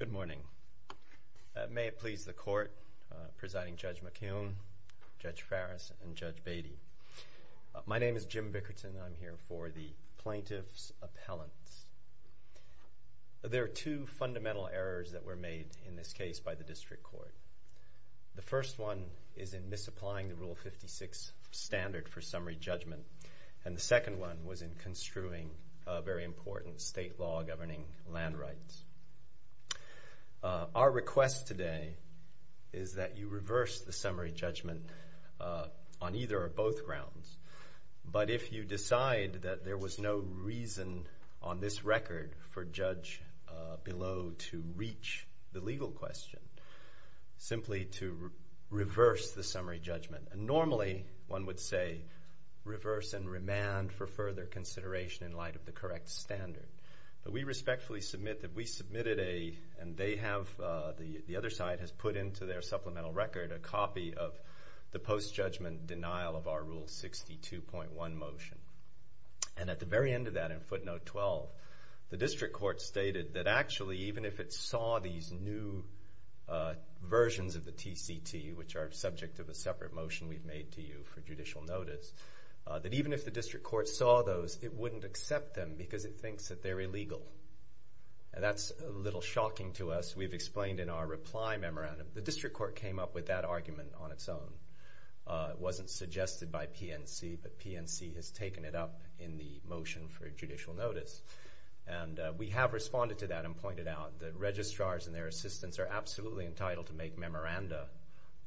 Good morning. May it please the Court, Presiding Judge McKeown, Judge Farris, and Judge Beatty. My name is Jim Bickerton. I'm here for the Plaintiff's Appellants. There are two fundamental errors that were made in this case by the District Court. The first one is in misapplying the Rule 56 standard for summary judgment. And the second one was in construing a very important state law governing land rights. Our request today is that you reverse the summary judgment on either or both grounds. But if you decide that there was no reason on this record for judge below to reach the legal question, simply to reverse the summary judgment. And normally one would say reverse and remand for further consideration in light of the correct standard. But we respectfully submit that we submitted a, and they have, the other side has put into their supplemental record a copy of the post-judgment denial of our Rule 62.1 motion. And at the very end of that, in footnote 12, the District Court stated that actually even if it saw these new versions of the TCT, which are subject to the separate motion we've made to you for judicial notice, that even if the District Court saw those, it wouldn't accept them because it thinks that they're illegal. And that's a little shocking to us. We've explained in our reply memorandum. The District Court came up with that argument on its own. It wasn't suggested by PNC, but PNC has taken it up in the motion for judicial notice. And we have responded to that and pointed out that registrars and their assistants are absolutely entitled to make memoranda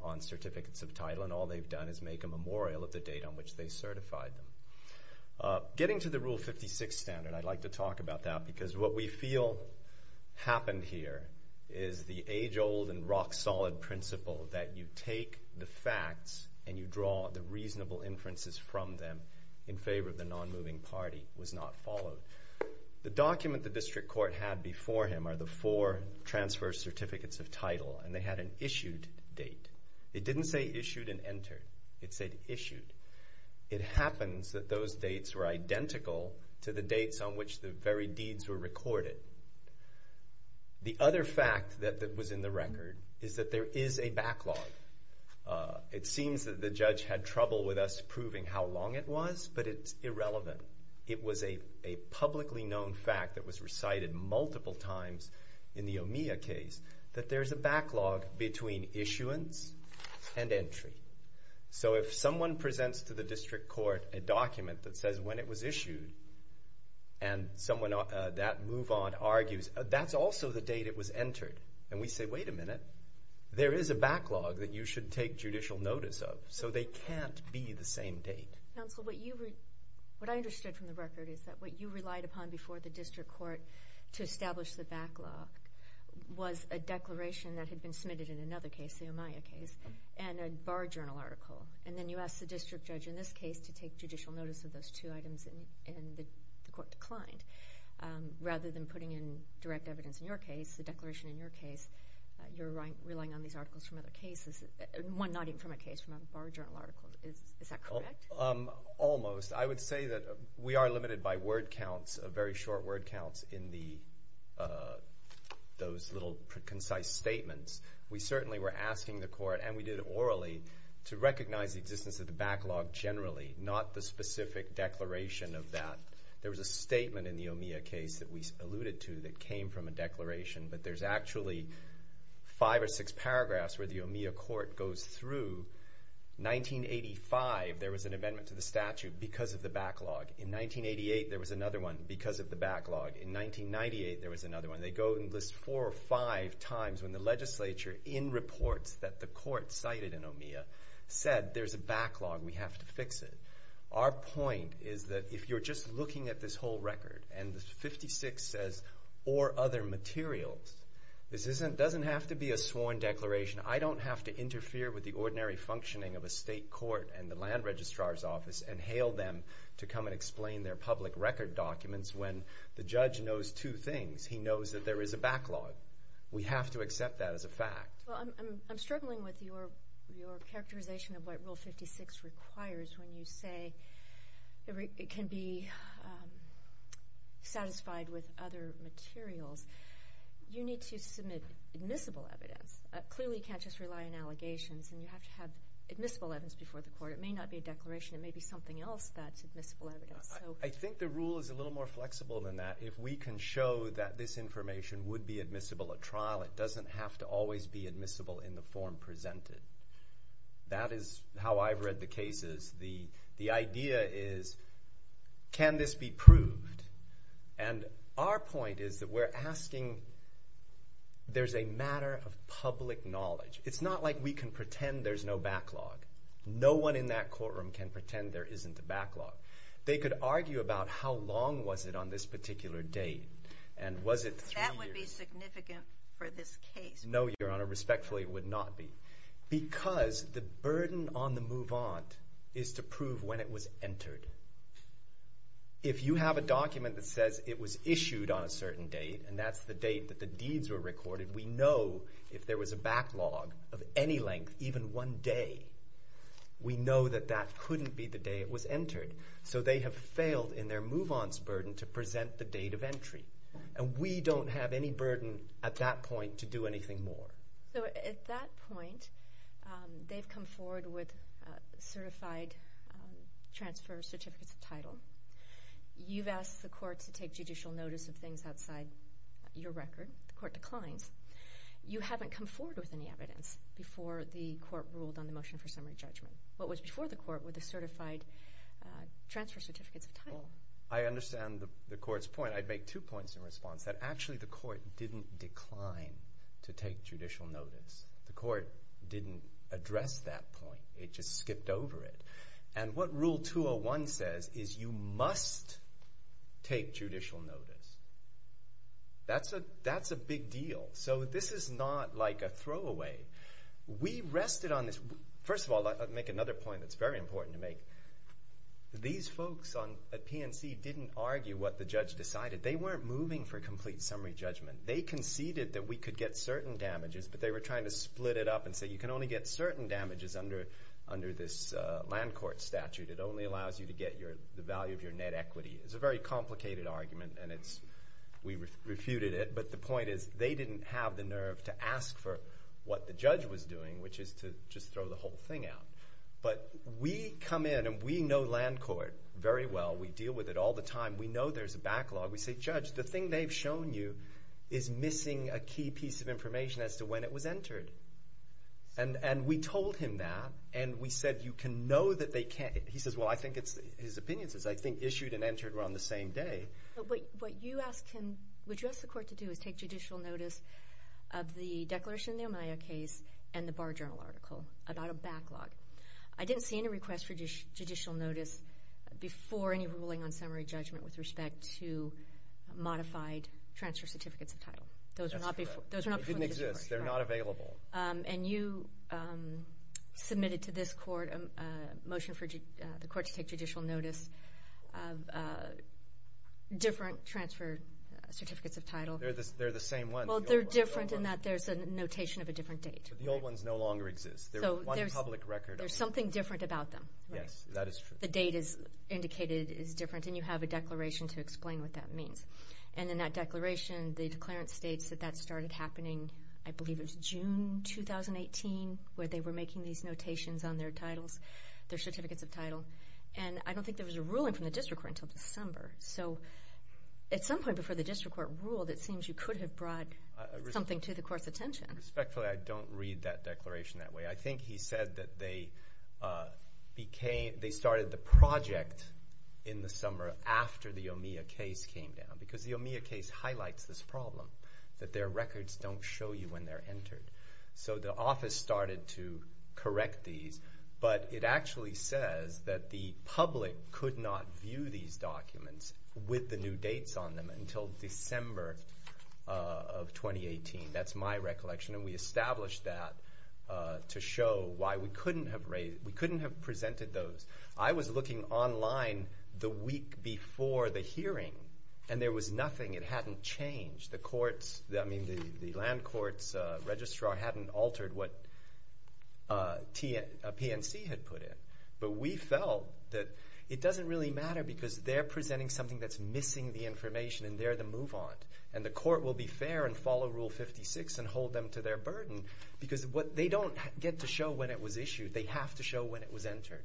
on certificates of title. And all they've done is make a memorial of the date on which they certified them. Getting to the Rule 56 standard, I'd like to talk about that because what we feel happened here is the age-old and rock-solid principle that you take the facts and you draw the reasonable inferences from them in favor of the non-moving party was not followed. The document the District Court had before him are the four transfer certificates of title, and they had an issued date. It didn't say issued and entered. It said issued. It happens that those dates were The other fact that was in the record is that there is a backlog. It seems that the judge had trouble with us proving how long it was, but it's irrelevant. It was a publicly known fact that was recited multiple times in the OMEA case, that there's a backlog between issuance and entry. So if someone presents to the District Court a document that says when it was issued, and someone that move on argues, that's also the date it was entered. And we say, wait a minute, there is a backlog that you should take judicial notice of. So they can't be the same date. Counsel, what I understood from the record is that what you relied upon before the District Court to establish the backlog was a declaration that had been submitted in another case, the OMEA case, and a bar journal article. And then you asked the District Judge in this case to establish two items, and the Court declined. Rather than putting in direct evidence in your case, the declaration in your case, you're relying on these articles from other cases, one not even from a case, from a bar journal article. Is that correct? Almost. I would say that we are limited by word counts, very short word counts in those little concise statements. We certainly were asking the Court, and we did it orally, to establish a declaration of that. There was a statement in the OMEA case that we alluded to that came from a declaration, but there's actually five or six paragraphs where the OMEA Court goes through. 1985, there was an amendment to the statute because of the backlog. In 1988, there was another one because of the backlog. In 1998, there was another one. They go and list four or five times when the legislature, in reports that the Court cited in OMEA, said there's a backlog, we have to fix it. Our point is that if you're just looking at this whole record, and 56 says, or other materials, this doesn't have to be a sworn declaration. I don't have to interfere with the ordinary functioning of a state court and the land registrar's office and hail them to come and explain their public record documents when the judge knows two things. He knows that there is a backlog. We have to accept that as a fact. I'm struggling with your characterization of what Rule 56 requires when you say it can be satisfied with other materials. You need to submit admissible evidence. Clearly, you can't just rely on allegations. You have to have admissible evidence before the Court. It may not be a declaration. It may be something else that's admissible evidence. I think the rule is a little more flexible than that. If we can show that this information would be admissible at trial, it doesn't have to always be admissible in the form presented. That is how I've read the cases. The idea is, can this be proved? Our point is that we're asking, there's a matter of public knowledge. It's not like we can pretend there's no backlog. No one in that courtroom can pretend there isn't a backlog. They could argue about how long was it on this particular date, and was it three years? That would be significant for this case. No, Your Honor, respectfully, it would not be. Because the burden on the move-on is to prove when it was entered. If you have a document that says it was issued on a certain date, and that's the date that the deeds were recorded, we know if there was a backlog of any length, even one day, we know that that couldn't be the day it was entered. So they have failed in their move-on's burden to present the date of entry. And we don't have any burden at that point to do anything more. So at that point, they've come forward with certified transfer certificates of title. You've asked the court to take judicial notice of things outside your record. The court declines. You haven't come forward with any evidence before the court ruled on transfer certificates of title. Well, I understand the court's point. I'd make two points in response. That actually the court didn't decline to take judicial notice. The court didn't address that point. It just skipped over it. And what Rule 201 says is you must take judicial notice. That's a big deal. So this is not like a throwaway. We rested on this. First of all, I'll make another point that's very important to make. These folks at PNC didn't argue what the judge decided. They weren't moving for a complete summary judgment. They conceded that we could get certain damages, but they were trying to split it up and say you can only get certain damages under this land court statute. It only allows you to get the value of your net equity. It's a very complicated argument, and we refuted it. But the point is they didn't have the nerve to ask for what the judge was doing, which is to just throw the whole thing out. But we come in, and we know land court very well. We deal with it all the time. We know there's a backlog. We say, Judge, the thing they've shown you is missing a key piece of information as to when it was entered. And we told him that, and we said you can know that they can't. He says, well, I think it's his opinions. I think issued and entered were on the same day. But what you asked the court to do is take judicial notice of the Declaration of Nehemiah case and the Bar Journal article about a backlog. I didn't see any request for judicial notice before any ruling on summary judgment with respect to modified transfer certificates of title. Those are not before the district court. That's correct. They didn't exist. They're not available. And you submitted to this court a motion for the court to take judicial notice of different transfer certificates of title. They're the same ones. Well, they're different in that there's a notation of a different date. The old ones no longer exist. There's something different about them. Yes, that is true. The date is indicated is different, and you have a declaration to explain what that means. And in that declaration, the declarant states that that started happening, I believe it was June 2018, where they were making these notations on their titles, their certificates of title. And I don't think there was a ruling from the district court until December. So at some point before the district court ruled, it seems you could have brought something to the court's attention. Respectfully, I don't read that declaration that way. I think he said that they started the project in the summer after the OMEA case came down, because the OMEA case highlights this problem, that their records don't show you when they're entered. So the office started to correct these, but it actually says that the public could not view these documents with the new dates on them until December of 2018. That's my recollection. And we established that to show why we couldn't have presented those. I was looking online the week before the hearing, and there was nothing. It hadn't changed. The land court's registrar hadn't altered what a PNC had put in. But we felt that it doesn't really matter because they're presenting something that's missing the information, and they're the move-on. And the court will be fair and follow Rule 56 and hold them to their burden, because they don't get to show when it was issued. They have to show when it was entered.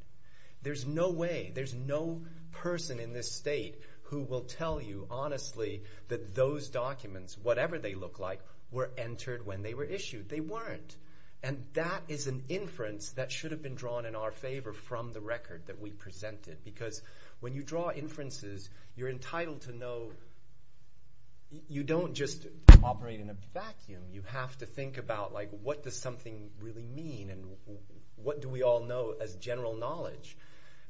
There's no way, there's no person in this state who will tell you honestly that those documents, whatever they look like, were entered when they were issued. They weren't. And that is an inference that should have been drawn in our favor from the record that we presented, because when you draw inferences, you're entitled to know. You don't just operate in a vacuum. You have to think about, like, what does something really mean, and what do we all know as general knowledge?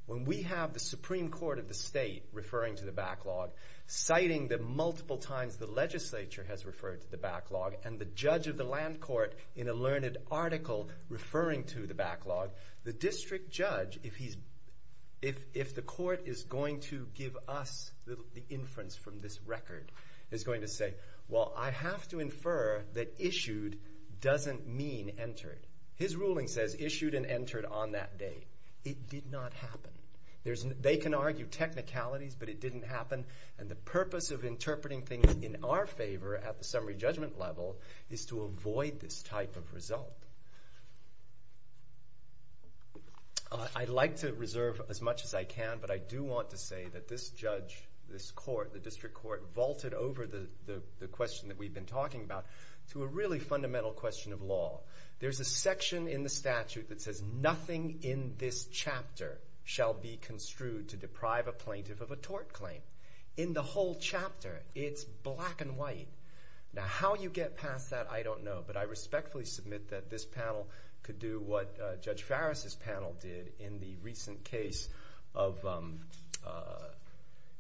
When we have the Supreme Court of the state referring to the backlog, citing that multiple times the legislature has referred to the backlog, and the judge of the land court in a learned article referring to the backlog, the district judge, if the court is going to give us the inference from this record, is going to say, well, I have to infer that issued doesn't mean entered. His ruling says issued and entered on that day. It did not happen. They can argue technicalities, but it didn't happen. And the purpose of interpreting things in our favor at the summary judgment level is to avoid this type of result. I'd like to reserve as much as I can, but I do want to say that this judge, this court, the district court, vaulted over the question that we've been talking about to a really fundamental question of law. There's a section in the statute that says nothing in this chapter shall be construed to deprive a plaintiff of a tort claim. In the whole chapter, it's black and white. Now, how you get past that, I don't know, but I respectfully submit that this panel could do what Judge Farris's panel did in the recent case of...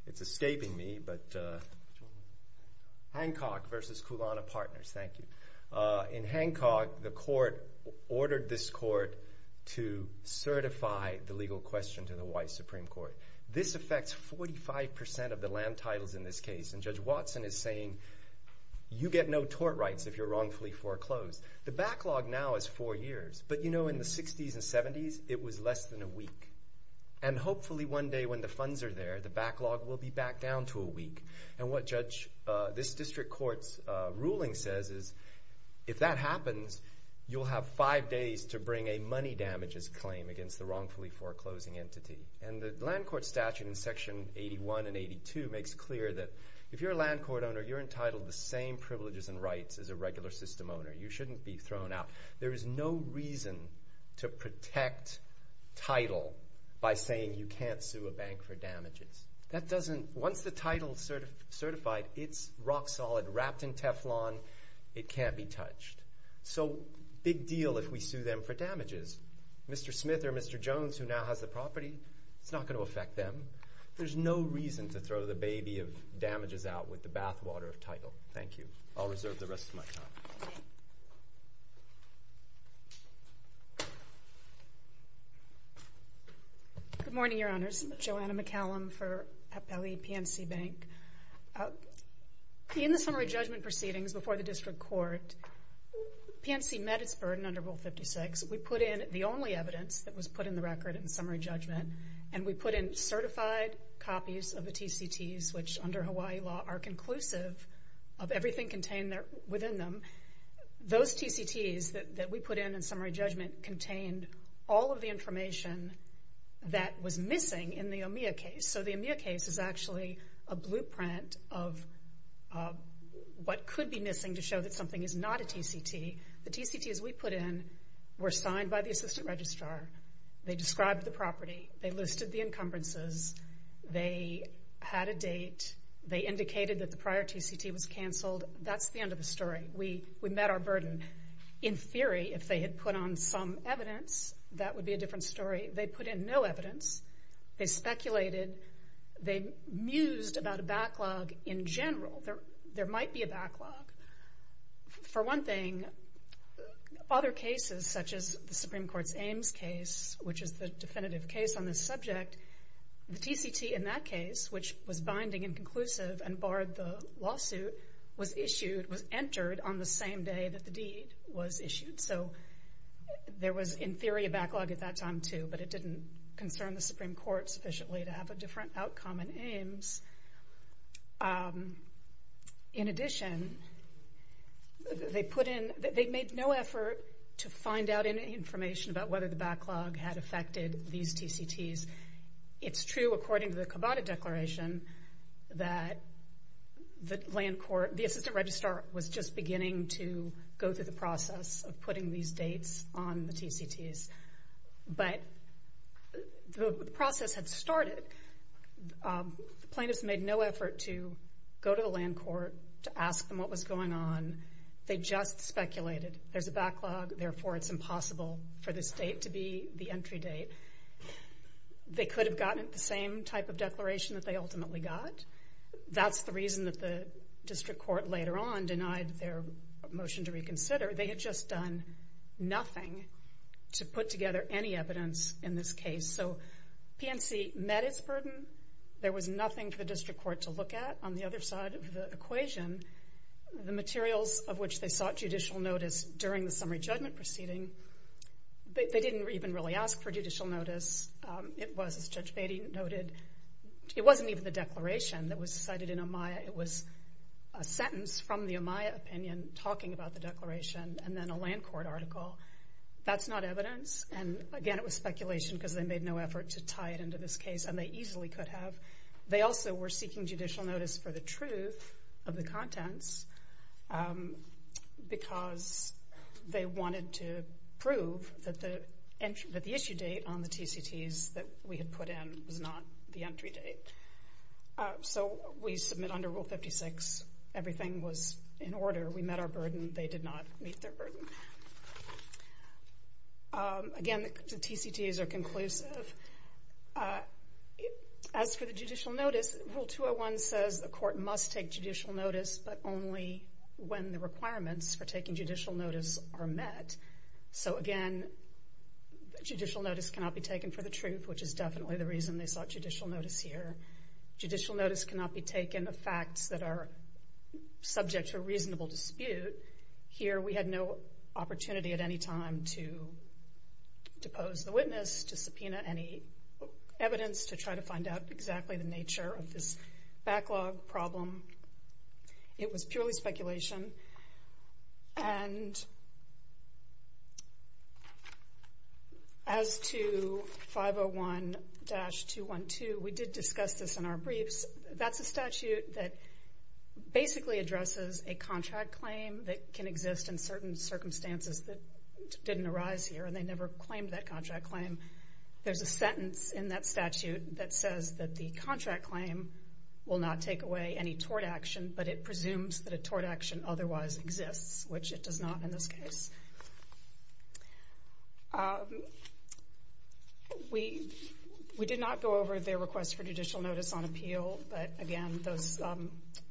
It's escaping me, but... Hancock v. Kulana Partners. Thank you. In Hancock, the court ordered this court to certify the legal question to the white Supreme Court. This affects 45% of the land titles in this case, and Judge Watson is saying, you get no tort rights if you're wrongfully foreclosed. The backlog now is four years, but, you know, in the 60s and 70s, it was less than a week. And hopefully one day when the funds are there, the backlog will be back down to a week. And what this district court's ruling says is, if that happens, you'll have five days to bring a money damages claim against the wrongfully foreclosing entity. And the land court statute in Section 81 and 82 makes clear that if you're a land court owner, you're entitled to the same privileges and rights as a regular system owner. You shouldn't be thrown out. There is no reason to protect title by saying you can't sue a bank for damages. That doesn't... Once the title's certified, it's rock solid, wrapped in Teflon. It can't be touched. So big deal if we sue them for damages. Mr. Smith or Mr. Jones, who now has the property, it's not going to affect them. There's no reason to throw the baby of damages out with the bathwater of title. Thank you. I'll reserve the rest of my time. Good morning, Your Honors. Joanna McCallum for Appellee PNC Bank. In the summary judgment proceedings before the district court, PNC met its burden under Rule 56. We put in the only evidence that was put in the record in summary judgment, and we put in certified copies of the TCTs, which under Hawaii law are conclusive of everything contained within them. Those TCTs that we put in in summary judgment contained all of the information that was missing in the OMEA case. So the OMEA case is actually a blueprint of what could be missing to show that something is not a TCT. The TCTs we put in were signed by the assistant registrar. They described the property. They listed the encumbrances. They had a date. They indicated that the prior TCT was canceled. That's the end of the story. We met our burden. In theory, if they had put on some evidence, that would be a different story. They put in no evidence. They speculated. They mused about a backlog in general. There might be a backlog. For one thing, other cases, such as the Supreme Court's Ames case, which is the definitive case on this subject, the TCT in that case, which was binding and conclusive and barred the lawsuit, was issued, was entered on the same day that the deed was issued. So there was, in theory, a backlog at that time, too, but it didn't concern the Supreme Court sufficiently to have a different outcome in Ames. In addition, they put in... They made no effort to find out any information about whether the backlog had affected these TCTs. It's true, according to the Kabata Declaration, that the assistant registrar was just beginning to go through the process of putting these dates on the TCTs. But the process had started. The plaintiffs made no effort to go to the land court to ask them what was going on. They just speculated. There's a backlog, therefore it's impossible for this date to be the entry date. They could have gotten the same type of declaration that they ultimately got. That's the reason that the district court later on denied their motion to reconsider. They had just done nothing to put together any evidence in this case. PNC met its burden. There was nothing for the district court to look at. On the other side of the equation, the materials of which they sought judicial notice during the summary judgment proceeding, they didn't even really ask for judicial notice. It was, as Judge Batey noted, it wasn't even the declaration that was cited in Amaya. It was a sentence from the Amaya opinion talking about the declaration and then a land court article. That's not evidence. Again, it was speculation because they made no effort to tie it into this case and they easily could have. They also were seeking judicial notice for the truth of the contents because they wanted to prove that the issue date on the TCTs that we had put in was not the entry date. We submit under Rule 56 everything was in order. We met our burden. They did not meet their burden. Again, the TCTs are conclusive. As for the judicial notice, Rule 201 says the court must take judicial notice but only when the requirements for taking judicial notice are met. Again, judicial notice cannot be taken for the truth which is definitely the reason they sought judicial notice here. Judicial notice cannot be taken of facts that are subject to a reasonable dispute. Here, we had no opportunity at any time to depose the witness, to subpoena any evidence, to try to find out exactly the nature of this backlog problem. It was purely speculation. As to 501-212 we did discuss this in our briefs. That's a statute that basically addresses a contract claim that can exist in certain circumstances that didn't arise here and they never claimed that contract claim. There's a sentence in that statute that says that the contract claim will not take away any tort action but it presumes that a tort action otherwise exists which it does not in this case. We did not go over their request for judicial notice on appeal but again those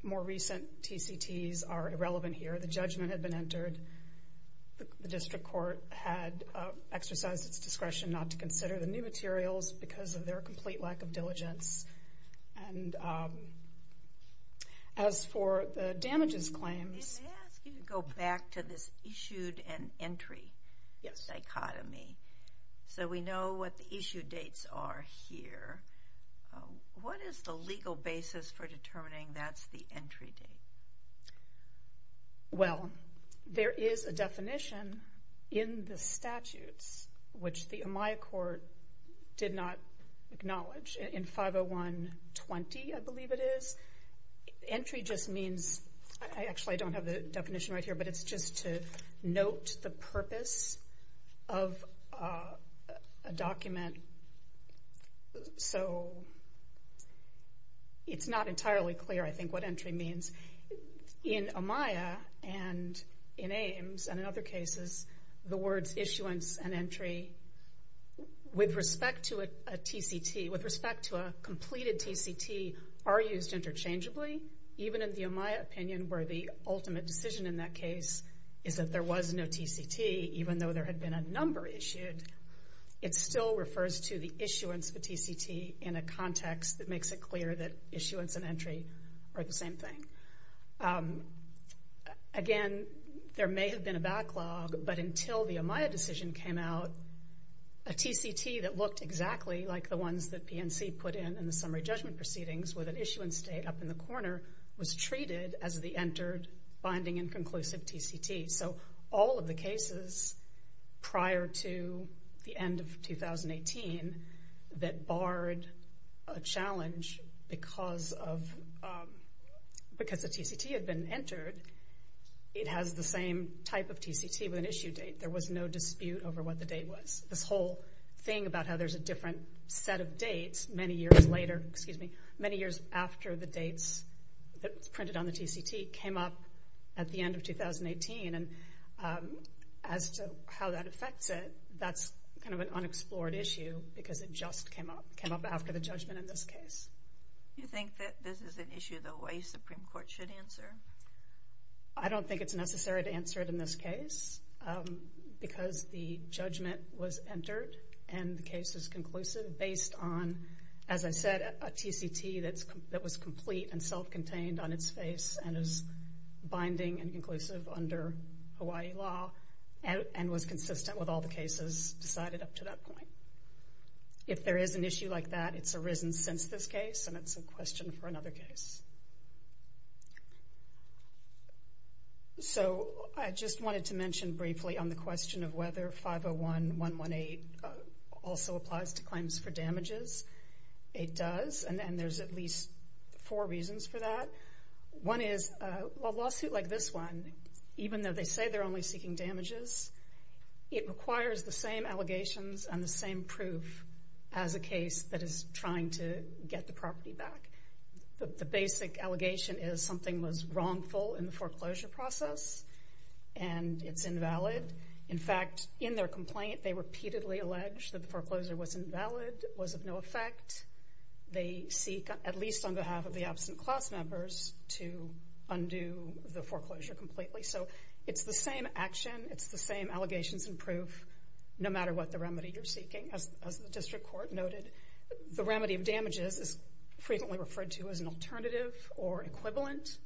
more recent TCTs are irrelevant here. The judgment had been entered the district court had exercised its discretion not to consider the new materials because of their complete lack of diligence and as for the damages claims... ...go back to this issued and entry dichotomy so we know what the issue dates are here What is the legal basis for determining that's the entry date? Well, there is a definition in the statutes which the Amaya court did not acknowledge in 501- 20 I believe it is entry just means I actually don't have the definition right here but it's just to note the purpose of a document so it's not entirely clear I think what entry means in Amaya and in Ames and in other cases the words issuance and entry with respect to a TCT with respect to a completed TCT are used interchangeably even in the Amaya opinion where the ultimate decision in that case is that there was no TCT even though there had been a number issued it still refers to the issuance of a TCT in a context that makes it clear that issuance and entry are the same thing Again, there may have been a backlog but until the Amaya decision came out a TCT that looked exactly like the ones that PNC put in in the summary judgment proceedings with an issuance date up in the corner was treated as the entered binding and conclusive TCT so all of the cases prior to the end of 2018 that barred a challenge because of the TCT had been entered it has the same type of TCT with an issue date. There was no dispute over what the date was. This whole thing about how there's a different set of dates many years later many years after the dates printed on the TCT came up at the end of 2018 and as to how that affects it that's kind of an unexplored issue because it just came up after the judgment in this case. Do you think that this is an issue the Hawaii Supreme Court should answer? I don't think it's necessary to answer it in this case because the judgment was entered and the case is conclusive based on as I said a TCT that was complete and self-contained on its face and is consistent with all the cases decided up to that point. If there is an issue like that it's arisen since this case and it's a question for another case. So I just wanted to mention briefly on the question of whether 501.118 also applies to claims for damages it does and there's at least four reasons for that one is a lawsuit like this one even though they say they're only seeking damages it requires the same allegations and the same proof as a case that is trying to get the property back the basic allegation is something was wrongful in the foreclosure process and it's invalid in fact in their complaint they repeatedly alleged that the foreclosure was invalid was of no effect they seek at least on behalf of the to undo the foreclosure completely so it's the same action it's the same allegations and proof no matter what the remedy you're seeking as the district court noted the remedy of damages is frequently referred to as an alternative or equivalent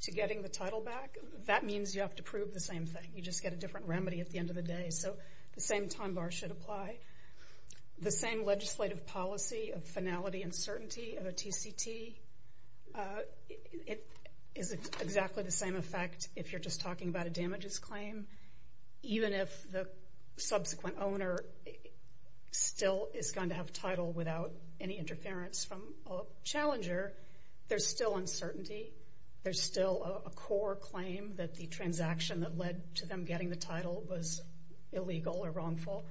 to getting the title back that means you have to prove the same thing you just get a different remedy at the end of the day so the same time bar should apply the same legislative policy of finality and certainty of a TCT it is exactly the same effect if you're just talking about a damages claim even if the subsequent owner still is going to have title without any interference from a challenger there's still uncertainty there's still a core claim that the transaction that led to them getting the title was illegal or wrongful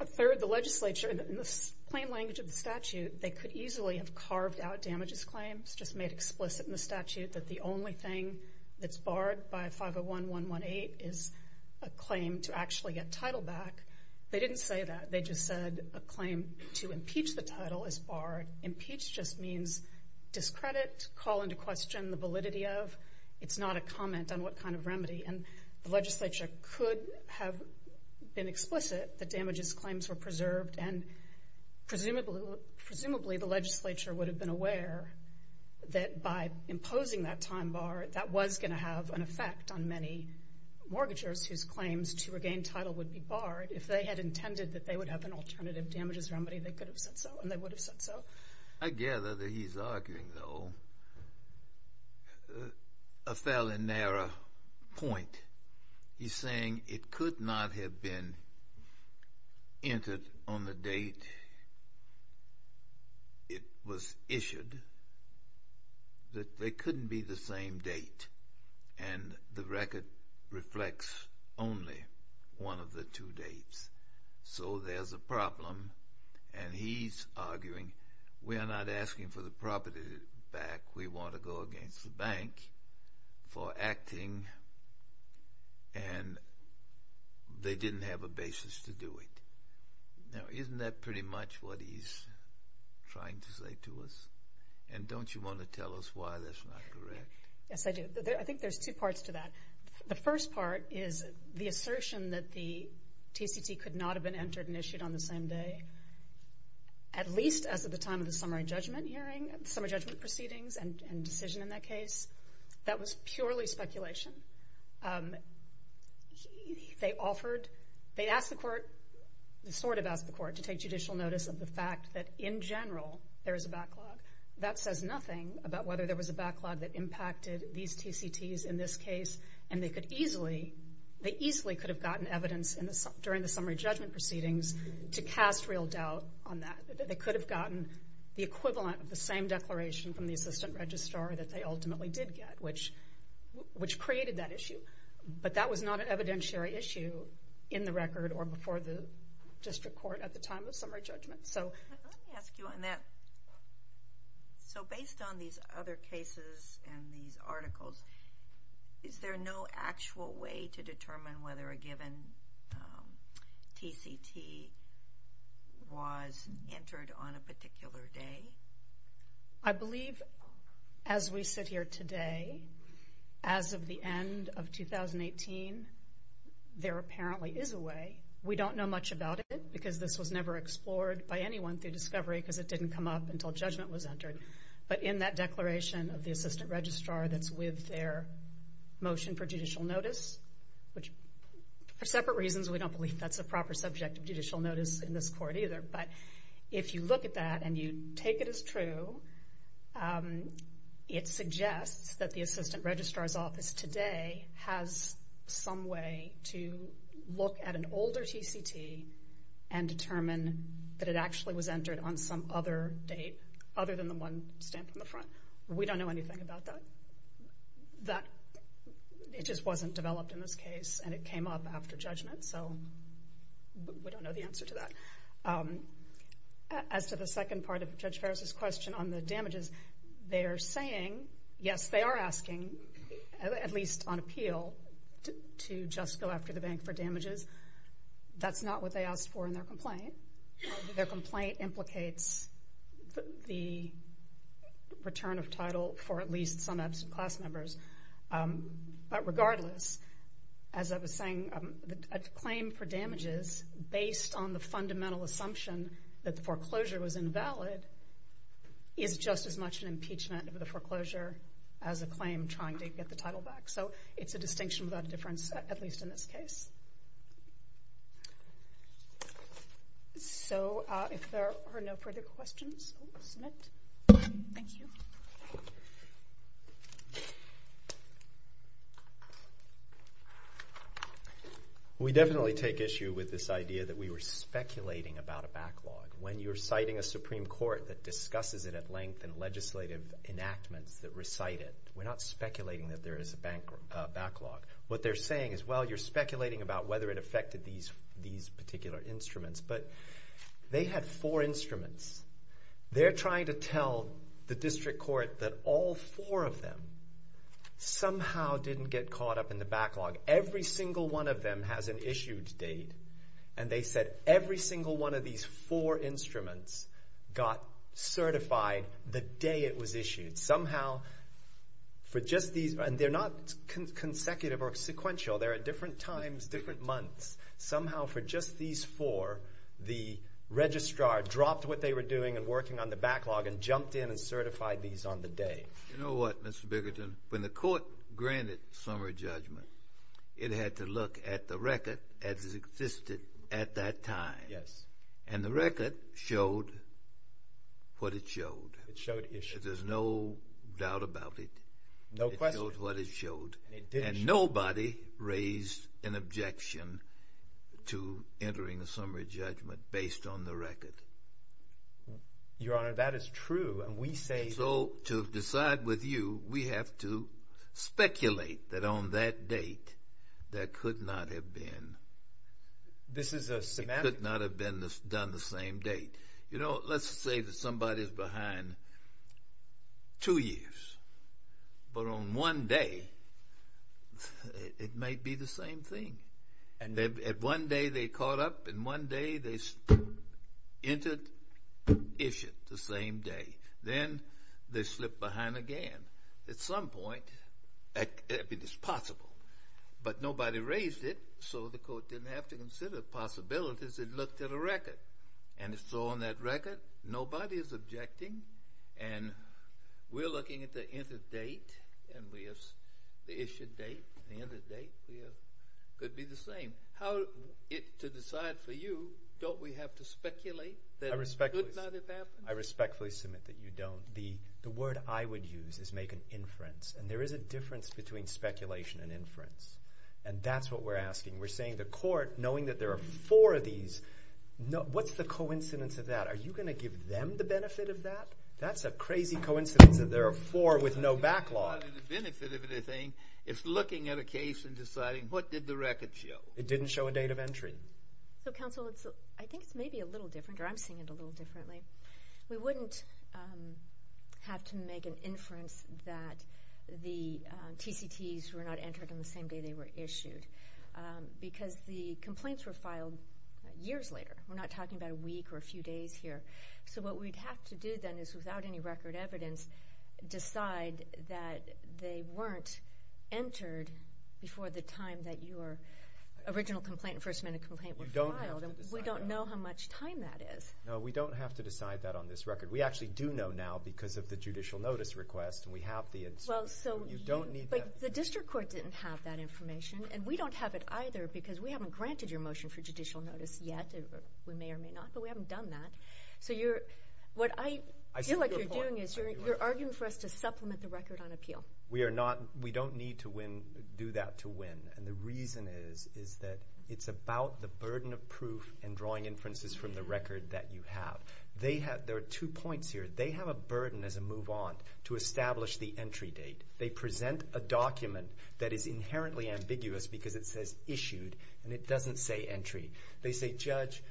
a third the legislature in the plain language of the preserved out damages claims just made explicit in the statute that the only thing that's barred by 501.118 is a claim to actually get title back they didn't say that, they just said a claim to impeach the title is barred impeach just means discredit, call into question the validity of, it's not a comment on what kind of remedy and the legislature could have been explicit that damages claims were preserved and presumably the legislature would have been aware that by imposing that time bar that was going to have an effect on many mortgages whose claims to regain title would be barred if they had intended that they would have an alternative damages remedy they could have said so I gather that he's arguing though a fairly narrow point he's saying it could not have been entered on the date it was issued that they couldn't be the same date and the record reflects only one of the two dates so there's a problem and he's arguing we're not asking for the property back, we want to go against the bank for acting and they didn't have a now isn't that pretty much what he's trying to say to us and don't you want to tell us why that's not correct? Yes I do I think there's two parts to that the first part is the assertion that the TCT could not have been entered and issued on the same day at least as of the time of the summary judgment hearing, summary judgment proceedings and decision in that case that was purely speculation they offered they asked the court sort of asked the court to take judicial notice of the fact that in general there is a backlog, that says nothing about whether there was a backlog that impacted these TCTs in this case and they could easily could have gotten evidence during the summary judgment proceedings to cast real doubt on that, they could have gotten the equivalent of the same declaration from the assistant registrar that they ultimately did get which created that issue but that was not an evidentiary issue in the record or before the district court at the time of summary judgment So based on these other cases and these articles is there no actual way to determine whether a given TCT was entered on a particular day? I believe as we sit here today as of the end of 2018 there apparently is a way we don't know much about it because this was never explored by anyone through discovery because it didn't come up until judgment was entered but in that declaration of the assistant registrar that's with their motion for judicial notice which for separate reasons we don't believe that's a proper subject of judicial notice in this court either but if you look at that and you take it as true it suggests that the assistant registrar's office today has some way to look at an older TCT and determine that it actually was entered on some other date other than the one stamped in the front we don't know anything about that that it just wasn't developed in this case and it came up after judgment so we don't know the answer to that as to the damages they are saying yes they are asking at least on appeal to just go after the bank for damages that's not what they asked for in their complaint their complaint implicates the return of title for at least some absent class members but regardless as I was saying a claim for damages based on the fundamental assumption that the foreclosure was just as much an impeachment of the foreclosure as a claim trying to get the title back so it's a distinction without difference at least in this case so if there are no further questions we will submit thank you we definitely take issue with this idea that we were speculating about a backlog when you are citing a length and legislative enactments that recite it we are not speculating that there is a backlog what they are saying is well you are speculating about whether it affected these particular instruments but they had four instruments they are trying to tell the district court that all four of them somehow didn't get caught up in the backlog every single one of them has an issued date and they said every single one of these four instruments got certified the day it was issued somehow they are not consecutive or sequential they are at different times different months somehow for just these four the registrar dropped what they were doing and working on the backlog and jumped in and certified these on the day you know what Mr. Biggerton when the court granted summary judgment it had to look at the record as it existed at that time and the record showed what it showed there is no doubt about it it showed what it showed and nobody raised an objection to entering a summary judgment based on the record your honor that is true so to decide with you we have to speculate that on that date that could not have been this is a semantic could not have been done the same date you know let's say that somebody is behind two years but on one day it might be the same thing at one day they caught up and one day they entered issued the same day then they slipped behind again at some point it is possible but nobody raised it so the court didn't have to consider possibilities it looked at a record and so on that record nobody is objecting and we are looking at the entered date the issued date could be the same to decide for you don't we have to speculate that it could not have happened I respectfully submit that you don't the word I would use is make an inference and there is a difference between speculation and inference and that's what we are asking we are saying the court knowing that there are four of these what's the coincidence of that are you going to give them the benefit of that that's a crazy coincidence that there are four with no backlog it's looking at a case and deciding what did the record show it didn't show a date of entry so counsel I think it's maybe a little different or I'm seeing it a little differently we wouldn't have to make an inference that the TCTs were not entered on the same day they were issued because the complaints were filed years later we are not talking about a week or a few days here so what we would have to do then is without any record evidence decide that they weren't entered before the time that your original first amendment complaint was filed we don't know how much time that is no we don't have to decide that on this record we actually do know now because of the judicial notice request and we have the you don't need that the district court didn't have that information and we don't have it either because we haven't granted your motion for judicial notice yet we may or may not but we haven't done that so what I feel like you are doing is you are arguing for us to supplement the record on appeal we don't need to do that to win and the reason is it's about the burden of proof and drawing inferences from the record that you have there are two points here they have a burden as a move on to establish the entry date they present a document that is inherently ambiguous because it says issued and it doesn't say entry they say judge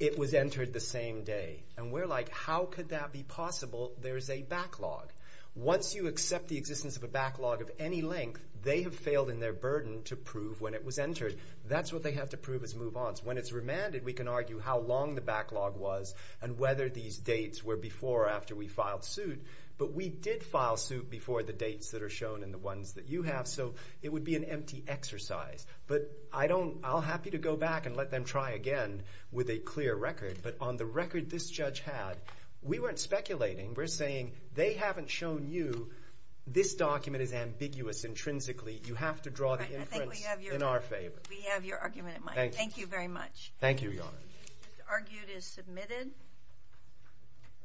it was entered the same day and we are like how could that be possible there is a backlog once you accept the existence of a backlog of any length they have failed in their burden to prove when it was entered that's what they have to prove as move on when it's remanded we can argue how long the backlog was and whether these dates were before or after we filed suit but we did file suit before the dates that are shown in the ones that you have so it would be an empty exercise but I'll be happy to go back and let them try again with a clear record but on the record this judge had we weren't speculating we are saying they haven't shown you this document is ambiguous intrinsically you have to draw the inference in our favor we have your argument in mind thank you very much argued is submitted